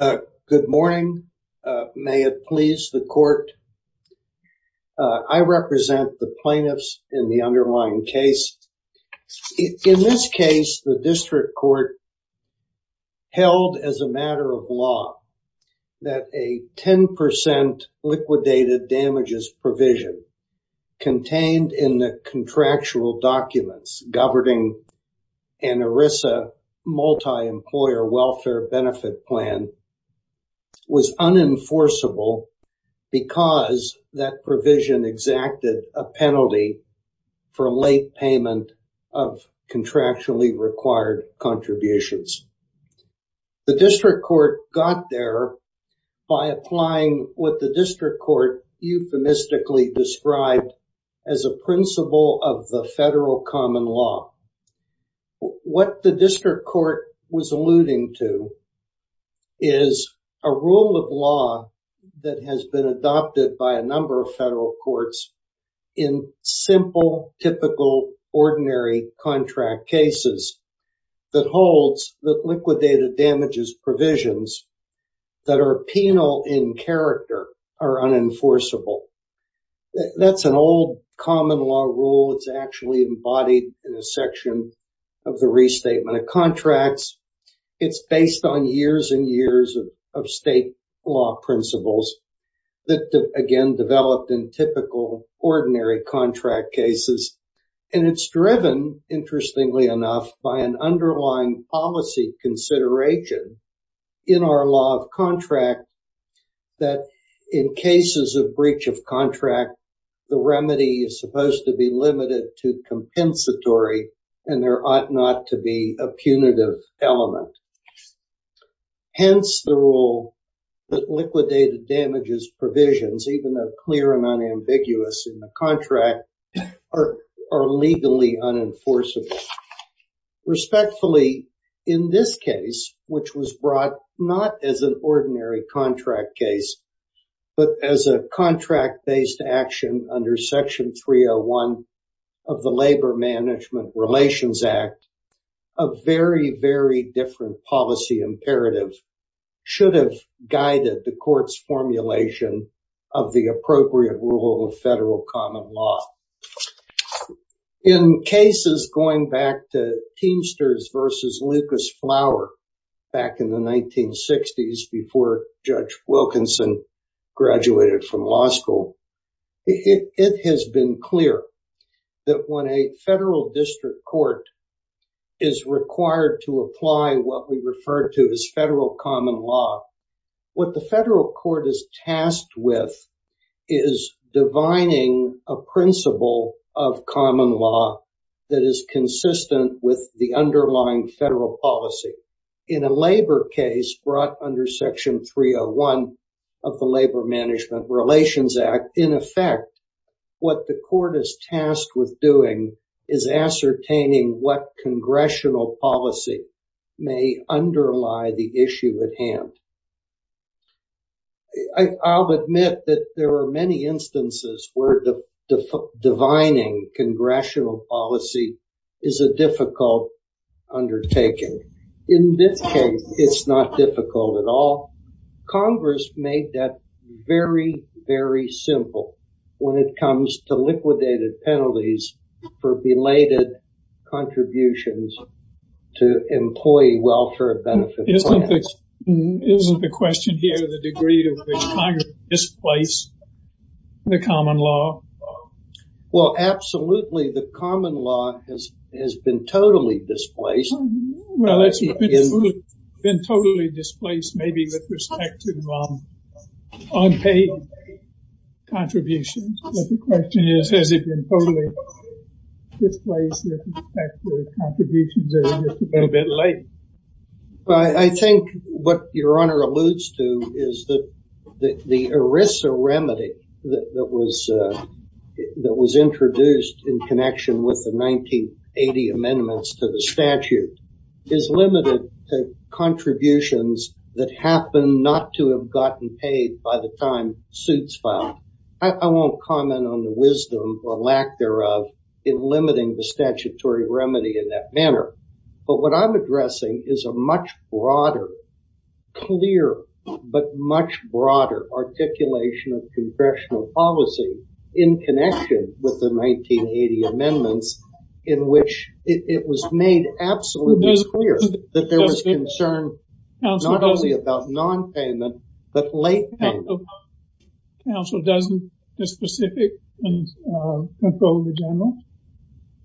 Good morning. May it please the court. I represent the plaintiffs in the underlying case. In this case, the district court held as a matter of law that a 10% liquidated damages provision contained in the contractual documents governing an ERISA multi-employer welfare benefit plan was unenforceable because that provision exacted a penalty for a late payment of contractually required contributions. The district court got there by applying what the district court euphemistically described as a principle of the federal common law. What the district court was alluding to is a rule of law that has been adopted by a number of federal courts in simple, typical, ordinary contract cases that holds that liquidated damages provisions that are penal in character are unenforceable. That's an old common law rule. It's actually embodied in a section of the restatement of contracts. It's based on years and years of state law principles that again, developed in typical, ordinary contract cases. And it's driven, interestingly enough, by an underlying policy consideration in our law of contract that in cases of breach of contract, the remedy is limited to compensatory and there ought not to be a punitive element. Hence the rule that liquidated damages provisions, even though clear and unambiguous in the contract, are legally unenforceable. Respectfully, in this case, which was brought not as an ordinary contract case, but as a contract-based action under section 301 of the Labor Management Relations Act, a very, very different policy imperative should have guided the court's formulation of the appropriate rule of federal common law. In cases going back to Teamsters versus Lucas Flower back in the 1960s before Judge Wilkinson graduated from law school, it has been clear that when a federal district court is required to apply what we refer to as federal common law, what the federal court is tasked with is divining a principle of common law that is consistent with the underlying federal policy. In a labor case brought under section 301 of the Labor Management Relations Act, in effect, what the court is tasked with doing is ascertaining what congressional policy may underlie the issue at hand. I'll admit that there are many instances where divining congressional policy is a difficult undertaking. In this case, it's not difficult at all. Congress made that very, very simple when it comes to liquidated penalties for belated contributions to employee welfare benefit plans. Isn't the question here the degree to which Congress displaced the common law? Well, absolutely. The common law has been totally displaced. Well, it's been totally displaced, maybe with respect to unpaid contributions. But the question is, has it been totally displaced with respect to contributions? It's a little bit late. I think what your honor alludes to is that the ERISA remedy that was introduced in connection with the 1980 amendments to the statute is limited to contributions that happen not to have gotten paid by the time suits filed. I won't comment on the wisdom or lack thereof in limiting the statutory remedy in that manner. But what I'm addressing is a much broader, clear, but much broader articulation of congressional policy in connection with the 1980 amendments in which it was made absolutely clear that there was concern not only about non-payment, but late payment. Counsel, doesn't the specific control the general?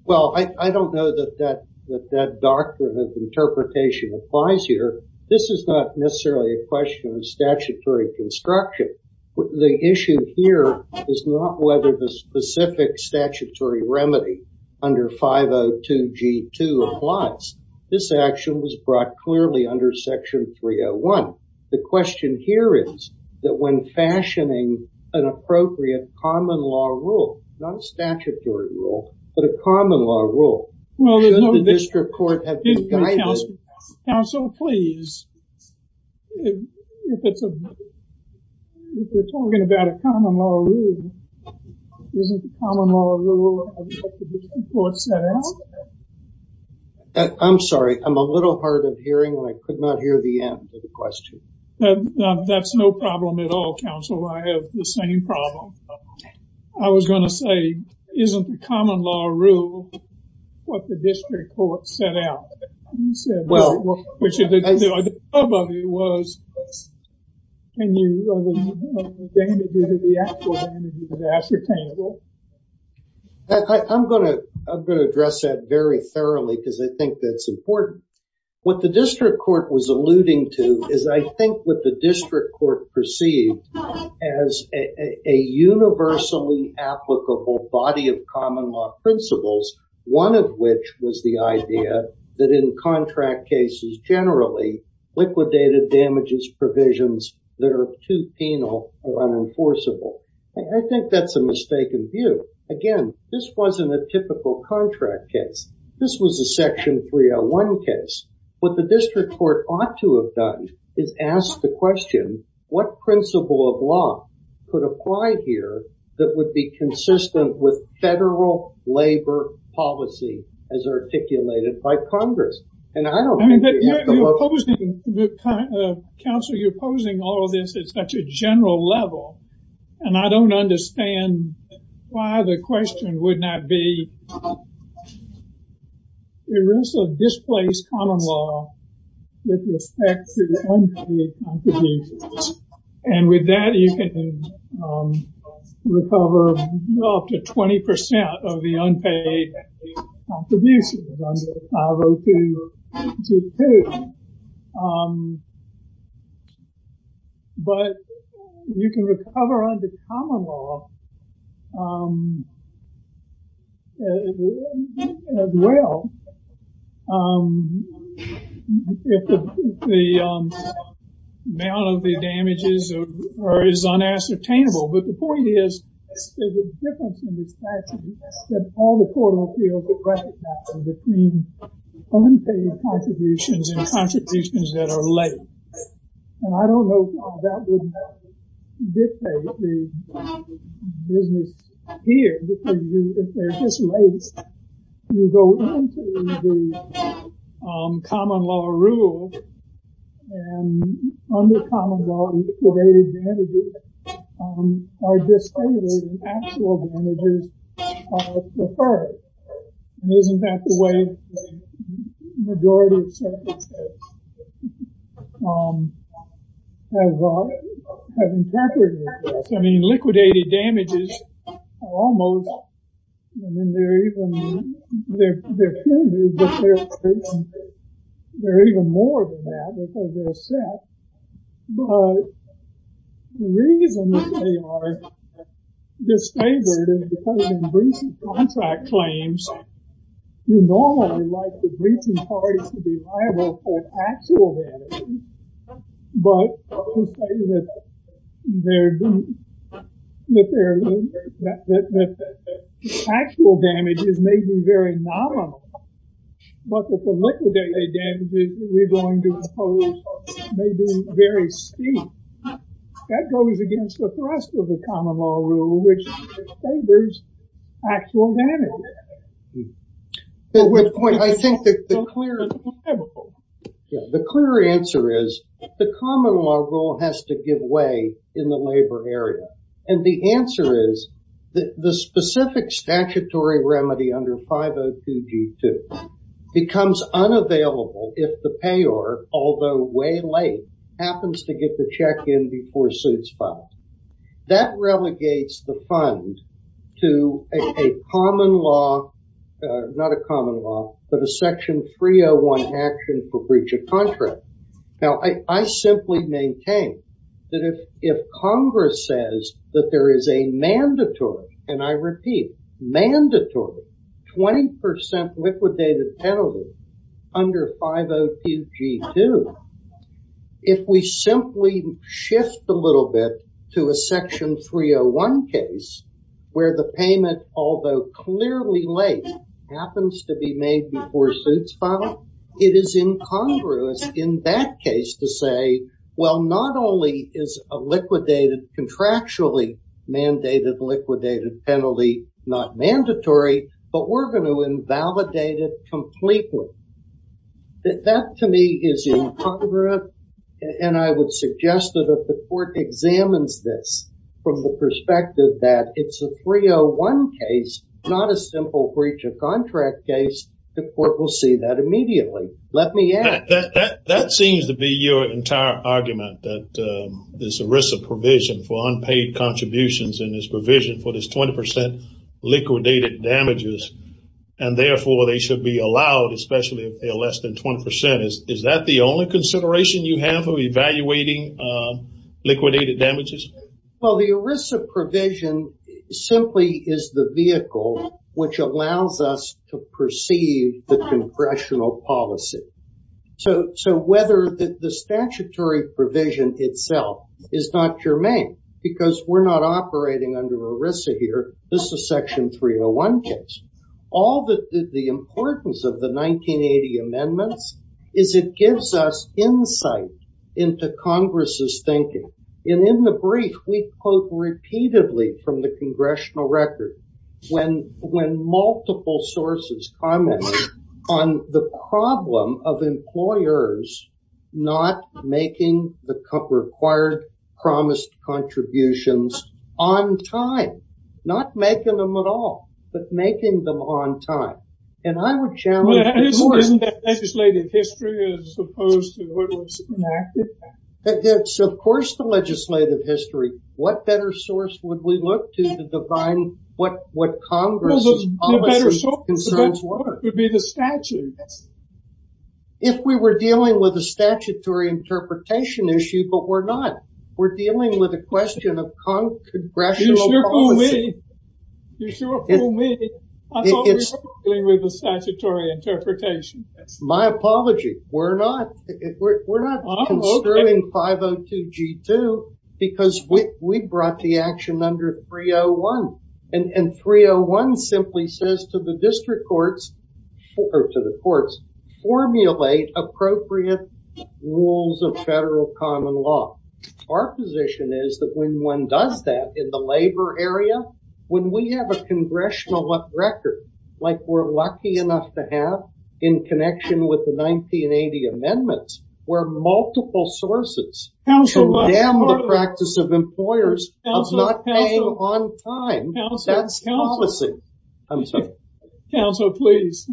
Well, I don't know that that doctrine of interpretation applies here. This is not necessarily a question of statutory construction. The issue here is not whether the specific statutory remedy under 502 G2 applies. This action was brought clearly under section 301. The question here is that when fashioning an appropriate common law rule, not a statutory rule, but a common law rule, should the district court have been guided? Counsel, please, if we're talking about a common law rule, isn't the common law rule what the district court set out? I'm sorry. I'm a little hard of hearing when I could not hear the end of the question. That's no problem at all, counsel. I have the same problem. I was going to say, isn't the common law rule what the district court set out? Well, I'm going to address that very thoroughly because I think that's important. What the district court was alluding to is I think what the district court perceived as a universally applicable body of common law principles, one of which was the idea that in contract cases, generally liquidated damages provisions that are too penal or unenforceable. I think that's a mistaken view. Again, this wasn't a typical contract case. This was a section 301 case. What the district court ought to have done is ask the question, what principle of law could apply here that would be consistent with federal labor policy as articulated by Congress? And I don't think that would work. Counsel, you're posing all of this at such a general level, and I don't understand why the question would not be, there is a displaced common law with respect to the unpaid contributions. And with that, you can recover up to 20% of the unpaid contributions under 502.2.2. But you can recover under common law as well. If the amount of the damages is unassertainable. But the point is, there's a difference in the statute that all the court of appeals would recognize between unpaid contributions and contributions that are late. And I don't know how that would dictate the business here, because if they're just late, you go into the common law rule, and under common law, liquidated damages are just stated and actual damages are deferred. And isn't that the way the majority of circuits have interpreted this? I mean, liquidated damages are almost, I mean, they're even more than that because they're set, but the reason that they are disfavored is because in breach of contract claims, you normally like the breaching parties to be liable for actual damages. But to say that the actual damage is maybe very nominal, but that the liquidated damages we're going to impose may be very steep, that goes against the thrust of the common law rule, which favors actual damage. But I think that the clear answer is the common law rule has to give way in the labor area. And the answer is that the specific statutory remedy under 502 G2 becomes unavailable if the payer, although way late, happens to get the check in before suits filed. That relegates the fund to a common law, not a common law, but a section 301 action for breach of contract. Now, I simply maintain that if Congress says that there is a mandatory, and I repeat, to a section 301 case where the payment, although clearly late, happens to be made before suits filed, it is incongruous in that case to say, well, not only is a liquidated, contractually mandated liquidated penalty not mandatory, but we're going to invalidate it this from the perspective that it's a 301 case, not a simple breach of contract case. The court will see that immediately. Let me add that. That seems to be your entire argument that this ERISA provision for unpaid contributions and this provision for this 20 percent liquidated damages and therefore they should be allowed, especially if they are less than 20 percent. Is that the only consideration you have of evaluating liquidated damages? Well, the ERISA provision simply is the vehicle which allows us to perceive the congressional policy. So whether the statutory provision itself is not germane because we're not operating under ERISA here. This is a section 301 case. All that the importance of the 1980 amendments is it gives us insight into Congress's thinking. And in the brief, we quote repeatedly from the congressional record when when multiple sources commented on the problem of employers not making the required promised contributions on time, not making them at all, but making them on time. And I would challenge the legislative history as opposed to what was enacted. It's of course, the legislative history. What better source would we look to define what what Congress's concerns were? It would be the statute. If we were dealing with a statutory interpretation issue, but we're not. We're dealing with a question of Congressional policy. You sure fool me. I thought we were dealing with a statutory interpretation. My apology. We're not. We're not construing 502 G2 because we brought the action under 301 and 301 simply says to the district courts or to the courts formulate appropriate rules of federal common law. Our position is that when one does that in the labor area, when we have a congressional record, like we're lucky enough to have in connection with the 1980 amendments, where multiple sources condemn the practice of employers of not paying on time, that's policy. I'm sorry. Counselor, please.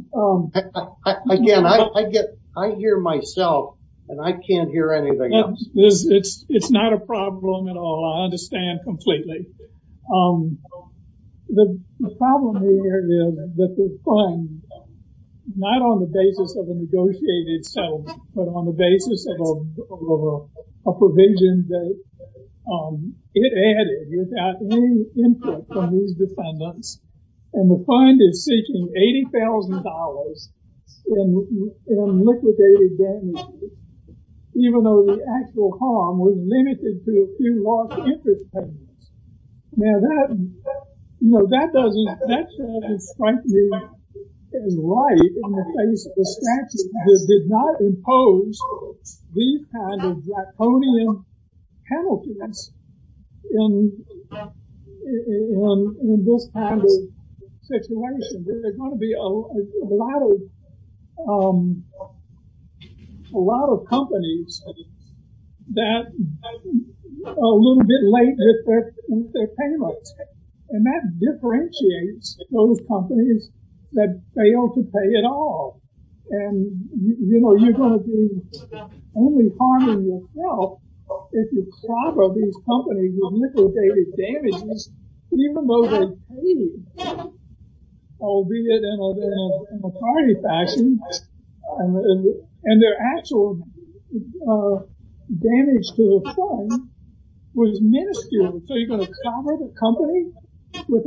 Again, I get I hear myself and I can't hear anything else. It's not a problem at all. I understand completely. The problem here is that the fund, not on the basis of a negotiated settlement, but on the basis of a provision that it added without any input from these defendants. And the fund is seeking $80,000 in liquidated damages. Even though the actual harm was limited to a few lost interest payments. Now, that doesn't strike me as right in the face of a statute that did not impose these kind of draconian penalties in this kind of situation. There's going to be a lot of companies that are a little bit late with their payments. And that differentiates those companies that fail to pay at all. And you know, you're going to be only harming yourself if you clobber these companies with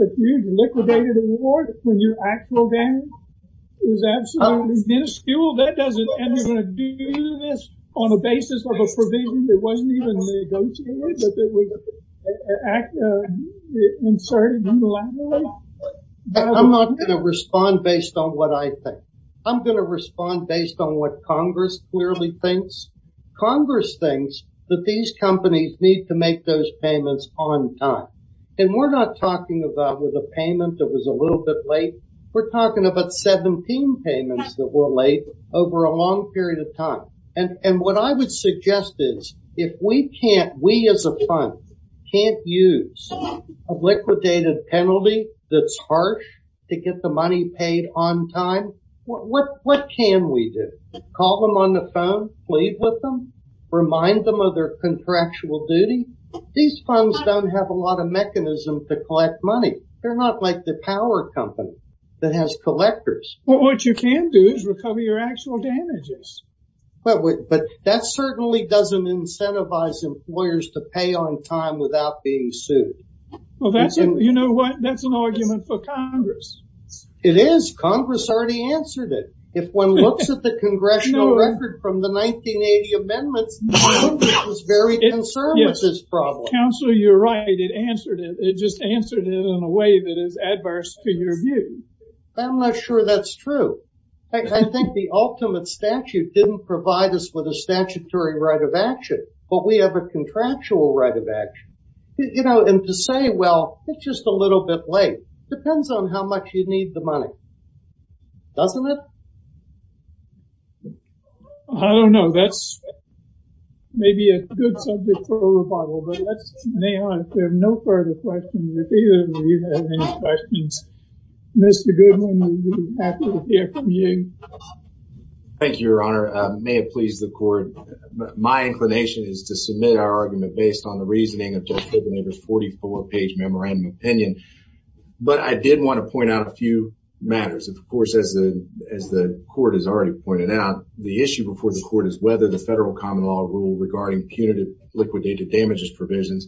a huge liquidated award when your actual damage is absolutely minuscule. That doesn't end up doing this on the basis of a provision that wasn't even negotiated, that it was inserted unilaterally. I'm not going to respond based on what I think. I'm going to respond based on what Congress clearly thinks. Congress thinks that these companies need to make those payments on time. And we're not talking about with a payment that was a little bit late. We're talking about 17 payments that were late over a long period of time. And what I would suggest is if we can't, we as a fund, can't use a liquidated penalty that's harsh to get the money paid on time, what can we do? Call them on the phone, plead with them, remind them of their contractual duty. These funds don't have a lot of mechanism to collect money. They're not like the power company that has collectors. What you can do is recover your actual damages. But that certainly doesn't incentivize employers to pay on time without being sued. Well, that's it. You know what? That's an argument for Congress. It is. Congress already answered it. If one looks at the congressional record from the 1980 amendments, Congress was very concerned with this problem. Counselor, you're right. It answered it. It just answered it in a way that is adverse to your view. I'm not sure that's true. I think the ultimate statute didn't provide us with a statutory right of action, but we have a contractual right of action. You know, and to say, well, it's just a little bit late. Depends on how much you need the money. Doesn't it? I don't know. That's maybe a good subject for a rebuttal, but let's stay on it. There are no further questions. If either of you have any questions, Mr. Thank you, Your Honor. May it please the court. My inclination is to submit our argument based on the reasoning of Judge Kopenhaver's 44-page memorandum opinion, but I did want to point out a few matters. Of course, as the court has already pointed out, the issue before the court is whether the federal common law rule regarding punitive liquidated damages provisions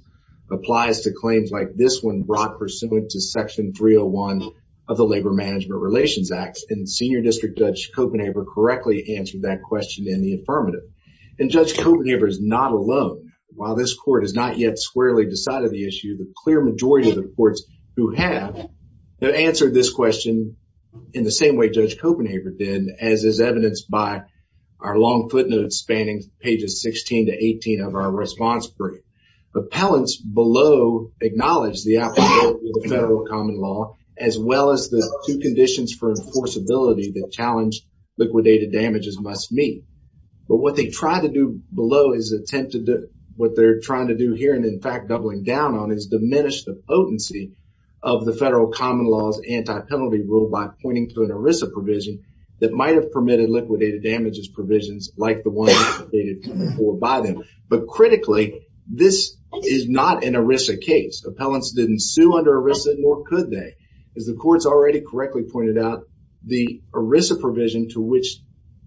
applies to claims like this one brought pursuant to section 301 of the federal common law. And Senior District Judge Kopenhaver correctly answered that question in the affirmative. And Judge Kopenhaver is not alone. While this court has not yet squarely decided the issue, the clear majority of the courts who have have answered this question in the same way Judge Kopenhaver did, as is evidenced by our long footnotes spanning pages 16 to 18 of our response brief. Appellants below acknowledge the application of the federal common law, as well as the two conditions for enforceability that challenge liquidated damages must meet. But what they try to do below is attempt to do what they're trying to do here. And in fact, doubling down on is diminish the potency of the federal common law's anti-penalty rule by pointing to an ERISA provision that might have permitted liquidated damages provisions like the one before by them. But critically, this is not an ERISA case. Appellants didn't sue under ERISA, nor could they. As the court's already correctly pointed out, the ERISA provision to which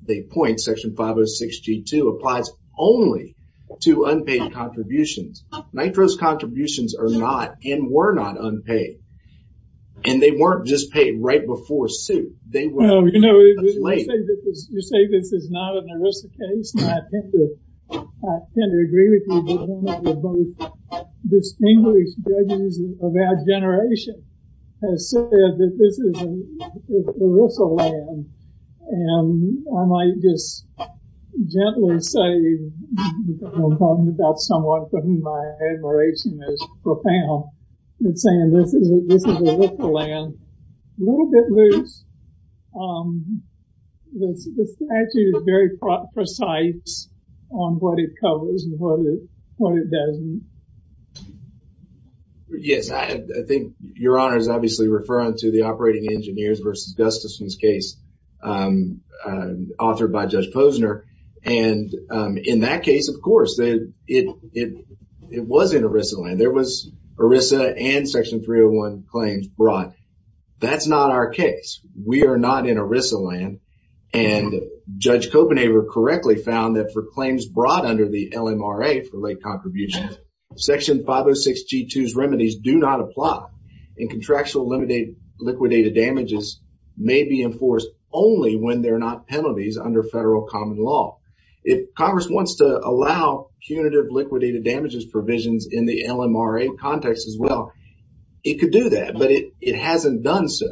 they point, section 506 G2, applies only to unpaid contributions. NITRO's contributions are not and were not unpaid. And they weren't just paid right before suit. They were paid as late. You say this is not an ERISA case. And I tend to agree with you that one of the most distinguished judges of our generation has said that this is an ERISA land. And I might just gently say, I'm talking about someone for whom my admiration is profound, and saying this is an ERISA land, a little bit loose. The statute is very precise on what it covers and what it doesn't. Yes, I think Your Honor is obviously referring to the Operating Engineers versus Gustafson's case, authored by Judge Posner. And in that case, of course, it was in ERISA land. There was ERISA and section 301 claims brought. That's not our case. We are not in ERISA land. And Judge Kopenhaver correctly found that for claims brought under the LMRA for contributions, section 506 G2's remedies do not apply and contractual liquidated damages may be enforced only when they're not penalties under federal common law. If Congress wants to allow punitive liquidated damages provisions in the LMRA context as well, it could do that, but it hasn't done so.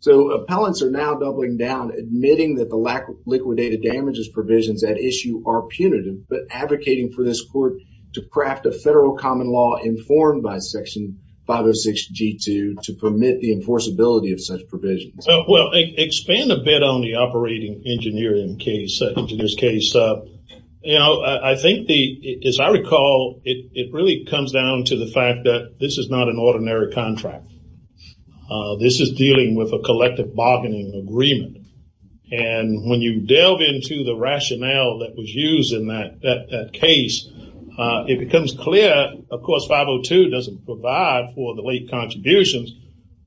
So appellants are now doubling down, admitting that the lack of liquidated damages provisions at issue are punitive, but advocating for this court to craft a federal common law informed by section 506 G2 to permit the enforceability of such provisions. Well, expand a bit on the Operating Engineer in this case. You know, I think, as I recall, it really comes down to the fact that this is not an ordinary contract. This is dealing with a collective bargaining agreement. And when you delve into the rationale that was used in that case, it becomes clear, of course, 502 doesn't provide for the late contributions.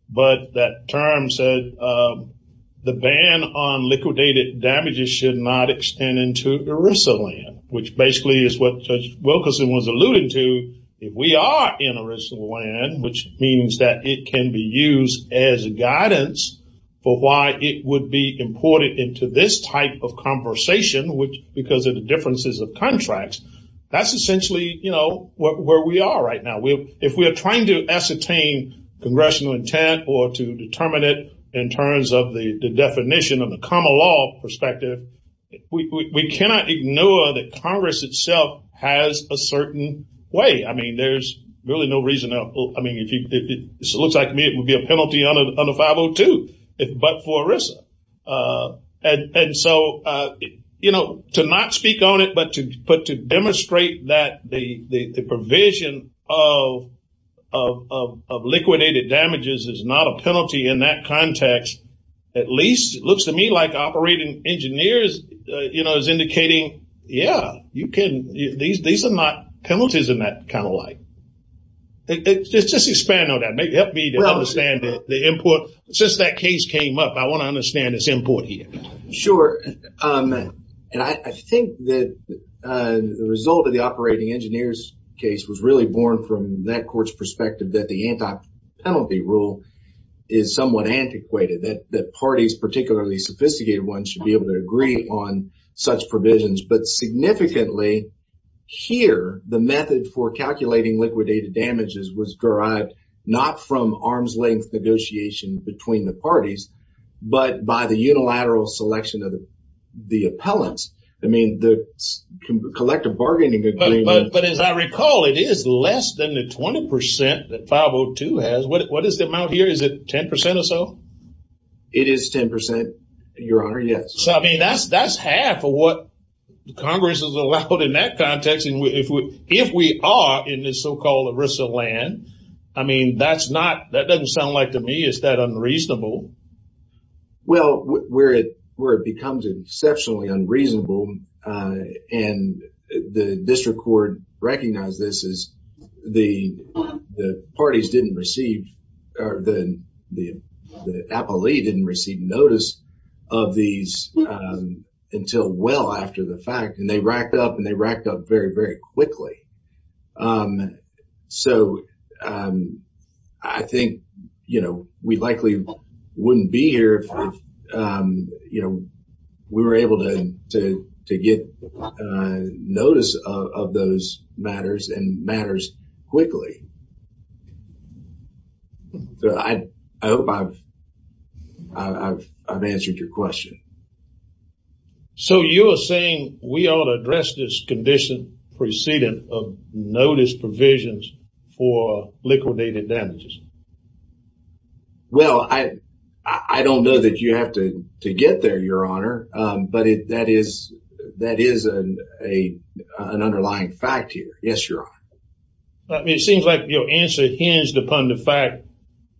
But that term said the ban on liquidated damages should not extend into ERISA land, which basically is what Judge Wilkerson was alluding to. If we are in ERISA land, which means that it can be used as guidance for why it would be imported into this type of conversation, which because of the differences of contracts, that's essentially, you know, where we are right now. If we are trying to ascertain congressional intent or to determine it in terms of the definition of the common law perspective, we cannot ignore that Congress itself has a certain way. I mean, there's really no reason. I mean, if it looks like me, it would be a penalty under 502, but for ERISA. And so, you know, to not speak on it, but to put to demonstrate that the provision of liquidated damages is not a penalty in that context, at least it looks to me like operating engineers, you know, is indicating, yeah, you can these are not penalties in that kind of light. Just expand on that, maybe help me to understand the input. Since that case came up, I want to understand its input here. Sure. And I think that the result of the operating engineers case was really born from that court's perspective that the anti-penalty rule is somewhat antiquated, that parties, particularly sophisticated ones, should be able to agree on such provisions. But significantly here, the method for calculating liquidated damages was derived not from arm's length negotiation between the parties, but by the unilateral selection of the appellants. I mean, the collective bargaining agreement. But as I recall, it is less than the 20 percent that 502 has. What is the amount here? Is it 10 percent or so? It is 10 percent, Your Honor, yes. So, I mean, that's half of what Congress has allowed in that context. If we are in this so-called arisal land, I mean, that's not, that doesn't sound like to me is that unreasonable. Well, where it becomes exceptionally unreasonable, and the district court recognized this, is the parties didn't receive, the appellee didn't receive notice of these until well after the fact, and they racked up and they racked up very, very quickly. So I think, you know, we likely wouldn't be here if, you know, we were able to get notice of those matters and matters quickly. I hope I've answered your question. So you are saying we ought to address this condition preceding notice provisions for liquidated damages? Well, I don't know that you have to get there, Your Honor, but that is an underlying fact here. Yes, Your Honor. It seems like your answer hinged upon the fact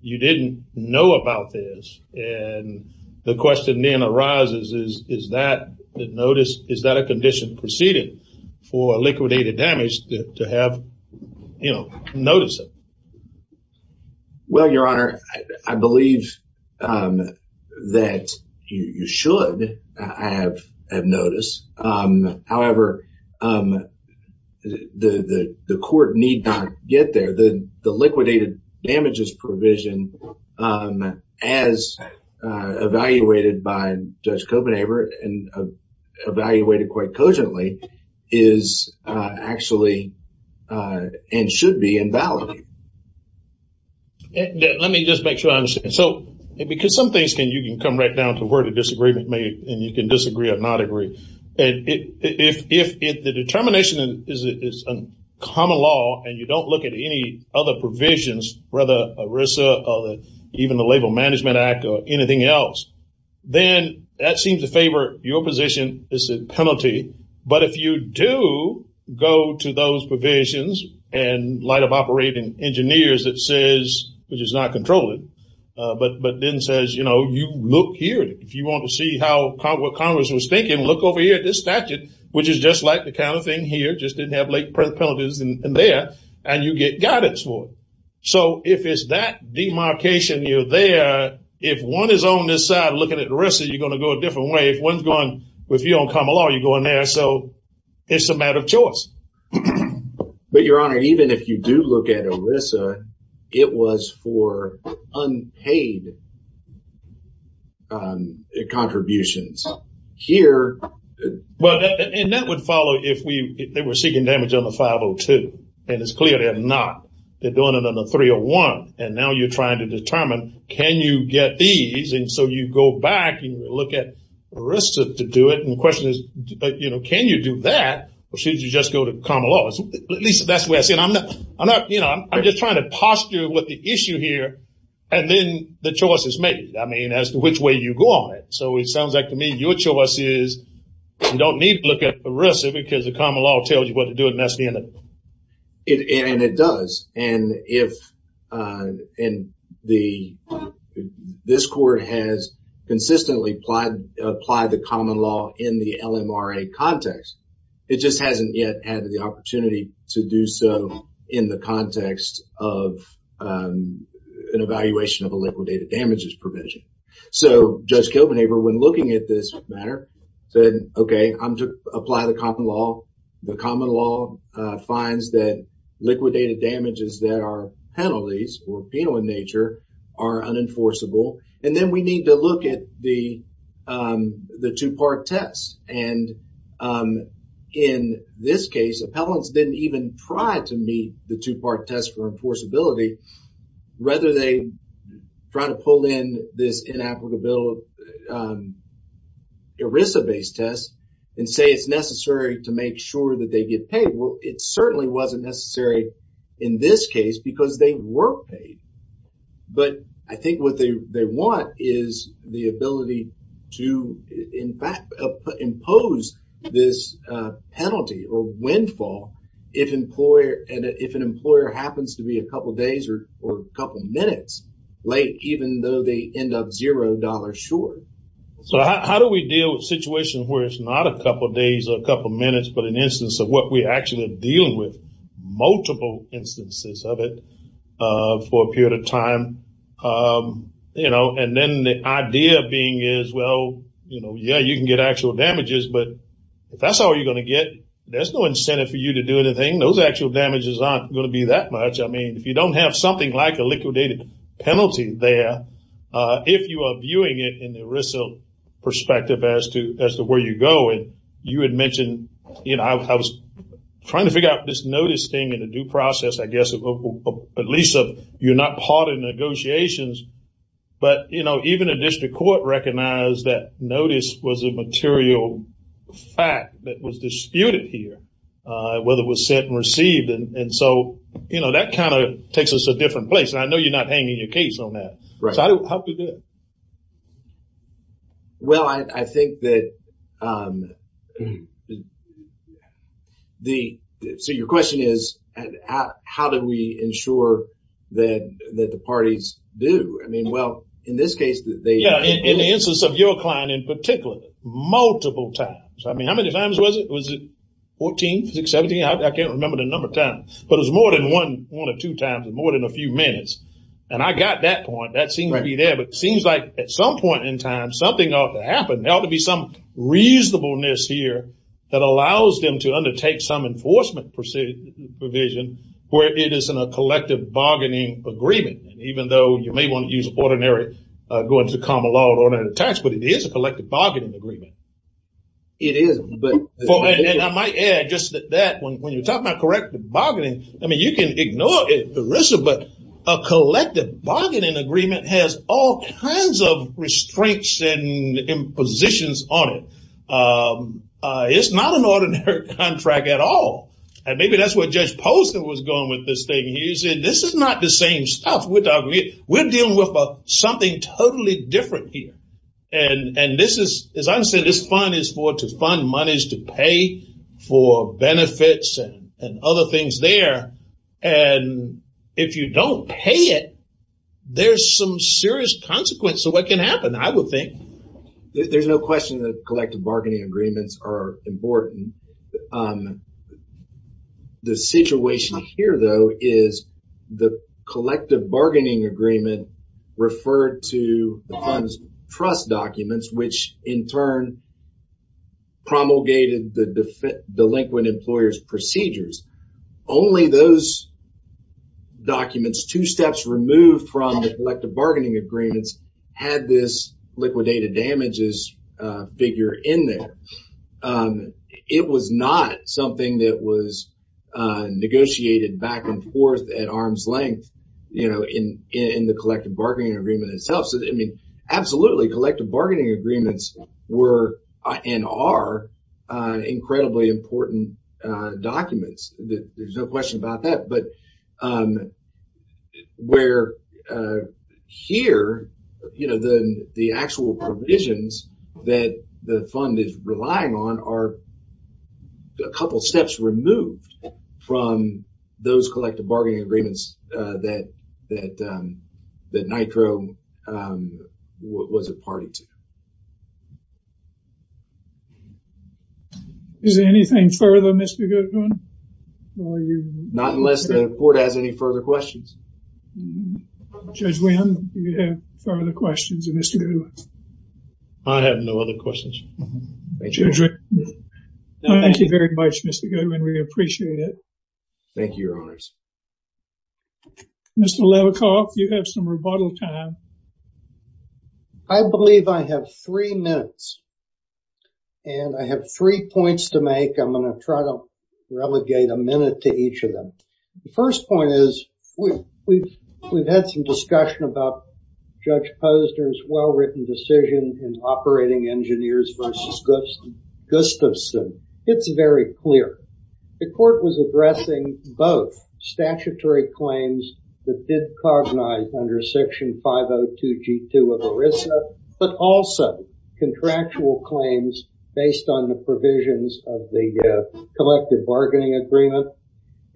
you didn't know about this. And the question then arises, is that the notice, is that a condition preceding for liquidated damage to have, you know, notice of? Well, Your Honor, I believe that you should have notice. However, the court need not get there. The liquidated damages provision, as evaluated by Judge Kopenhaver and evaluated quite cogently, is actually and should be invalid. Let me just make sure I understand. So because some things can, you can come right down to where the disagreement may, and you can disagree or not agree. And if the determination is a common law and you don't look at any other provisions, whether ERISA or even the Labor Management Act or anything else, then that seems to favor your position as a penalty. But if you do go to those provisions in light of operating engineers that says, which is not controlling, but then says, you know, you look here, if you want to see how Congress was thinking, look over here at this statute, which is just like the kind of thing here, just didn't have late penalties in there, and you get guidance for it. So if it's that demarcation you're there, if one is on this side looking at ERISA, you're going to go a different way. If one's going, if you're on common law, you're going there. So it's a matter of choice. But Your Honor, even if you do look at ERISA, it was for unpaid contributions. Here. Well, and that would follow if they were seeking damage on the 502. And it's clear they're not. They're doing it on the 301. And now you're trying to determine, can you get these? And so you go back and look at ERISA to do it. And the question is, you know, can you do that? Or should you just go to common law? At least that's the way I see it. I'm not, you know, I'm just trying to posture with the issue here. And then the choice is made. I mean, as to which way you go on it. So it sounds like to me, your choice is you don't need to look at ERISA because the common law tells you what to do. And that's the end of it. And it does. And if, and the, this court has consistently applied, applied the common law in the LMRA context, it just hasn't yet added the opportunity to do so in the context of an evaluation of a legal data damages provision. So Judge Kilbanever, when looking at this matter, said, okay, I'm to apply the common law, the common law finds that liquidated damages that are penalties or penal in nature are unenforceable. And then we need to look at the, the two-part test. And in this case, appellants didn't even try to meet the two-part test for this inapplicable ERISA-based test and say it's necessary to make sure that they get paid. Well, it certainly wasn't necessary in this case because they were paid. But I think what they want is the ability to, in fact, impose this penalty or windfall if employer, if an employer happens to be a couple of days or a couple of minutes late, even though they end up $0 short. So how do we deal with situations where it's not a couple of days or a couple of minutes, but an instance of what we actually are dealing with multiple instances of it for a period of time? You know, and then the idea being is, well, you know, yeah, you can get actual damages, but if that's all you're going to get, there's no incentive for you to do anything. Those actual damages aren't going to be that much. I mean, if you don't have something like a liquidated penalty there, if you are viewing it in the ERISA perspective as to where you go, and you had mentioned, you know, I was trying to figure out this notice thing in a due process, I guess, at least you're not part of negotiations. But, you know, even a district court recognized that notice was a material fact that was disputed here, whether it was sent and received. And so, you know, that kind of takes us to a different place. And I know you're not hanging your case on that. Right. So how do we do it? Well, I think that the, so your question is, how do we ensure that the parties do? I mean, well, in this case, they... Yeah, in the instance of your client in particular, multiple times. I mean, how many times was it? Was it 14, 16, 17? I can't remember the number of times, but it was more than one or two times, more than a few minutes. And I got that point. That seems to be there, but it seems like at some point in time, something ought to happen. There ought to be some reasonableness here that allows them to undertake some enforcement provision where it isn't a collective bargaining agreement, even though you may want to use ordinary going to common law or tax, but it is a collective bargaining agreement. It is, but... And I might add just that when you're talking about correct bargaining, I mean, you can ignore it, Marissa, but a collective bargaining agreement has all kinds of restraints and impositions on it. It's not an ordinary contract at all. And maybe that's where Judge Poston was going with this thing. He said, this is not the same stuff. We're dealing with something totally different here. And this is, as I said, this fund is for to fund monies, to pay for benefits and other things there. And if you don't pay it, there's some serious consequence of what can happen, I would think. There's no question that collective bargaining agreements are important. The situation here, though, is the collective bargaining agreement referred to the fund's trust documents, which in turn promulgated the delinquent employer's procedures. Only those documents, two steps removed from the collective bargaining agreements, had this liquidated damages figure in there. It was not something that was negotiated back and forth at arm's length in the past. I mean, absolutely, collective bargaining agreements were and are incredibly important documents. There's no question about that. But where here, you know, the actual provisions that the fund is relying on are a couple of steps removed from those collective bargaining agreements that the NITRO was a party to. Is there anything further, Mr. Goodwin? Not unless the Court has any further questions. Judge Wynn, do you have further questions of Mr. Goodwin? I have no other questions. Thank you very much, Mr. Goodwin. We appreciate it. Thank you, Your Honors. Mr. Levikoff, you have some rebuttal time. I believe I have three minutes and I have three points to make. I'm going to try to relegate a minute to each of them. The first point is we've had some discussion about Judge Posner's well-written decision in Operating Engineers v. Gustafson. It's very clear. The Court was addressing both statutory claims that did cognize under Section 502 G2 of ERISA, but also contractual claims based on the provisions of the collective bargaining agreement.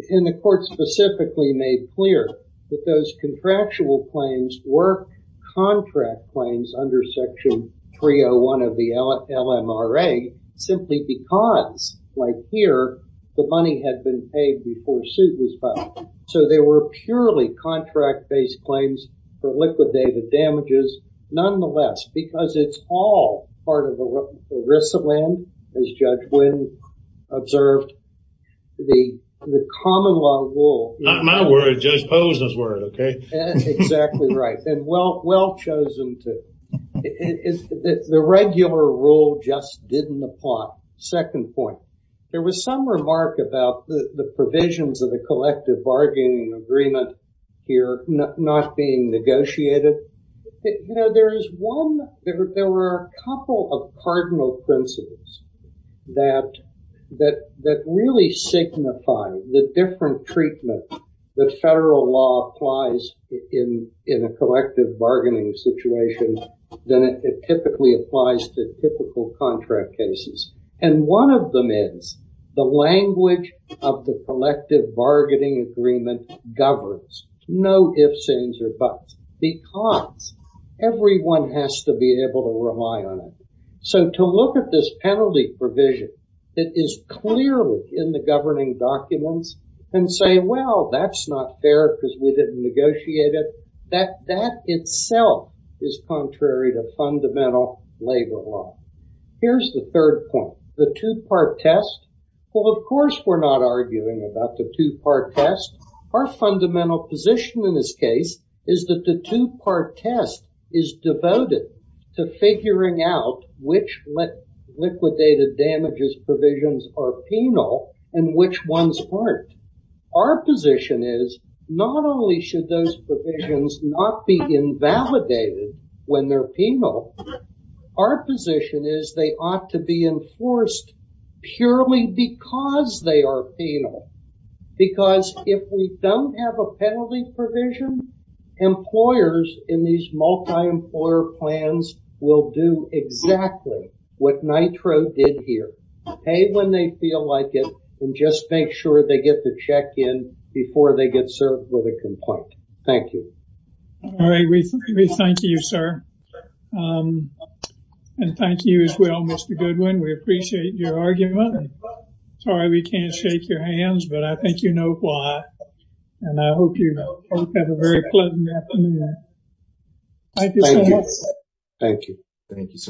And the Court specifically made clear that those contractual claims were contract claims under Section 301 of the LMRA simply because, like here, the money had been paid before suit was filed. So they were purely contract-based claims for liquidated damages, nonetheless, because it's all part of ERISA land, as Judge Wynn observed. The common law rule. Not my word, Judge Posner's word, OK? Exactly right. And well, well chosen. The regular rule just didn't apply. Second point. There was some remark about the provisions of the collective bargaining agreement here not being negotiated. There is one, there were a couple of cardinal principles that really signify the different treatment that federal law applies in a collective bargaining situation than it typically applies to typical contract cases. And one of them is the language of the collective bargaining agreement governs. No ifs, ands, or buts, because everyone has to be able to rely on it. So to look at this penalty provision that is clearly in the governing documents and say, well, that's not fair because we didn't negotiate it, that that itself is contrary to fundamental labor law. Here's the third point. The two part test. Well, of course, we're not arguing about the two part test. Our fundamental position in this case is that the two part test is devoted to figuring out which liquidated damages provisions are penal and which ones aren't. Our position is not only should those provisions not be invalidated when they're penal, our position is they ought to be enforced purely because they are penal. Because if we don't have a penalty provision, employers in these multi-employer plans will do exactly what NITRO did here, pay when they feel like it, and just make sure they get the check in before they get served with a complaint. Thank you. All right, we thank you, sir. And thank you as well, Mr. Goodwin. We appreciate your argument. Sorry, we can't shake your hands, but I think you know why. And I hope you have a very pleasant afternoon. Thank you so much. Thank you, sir.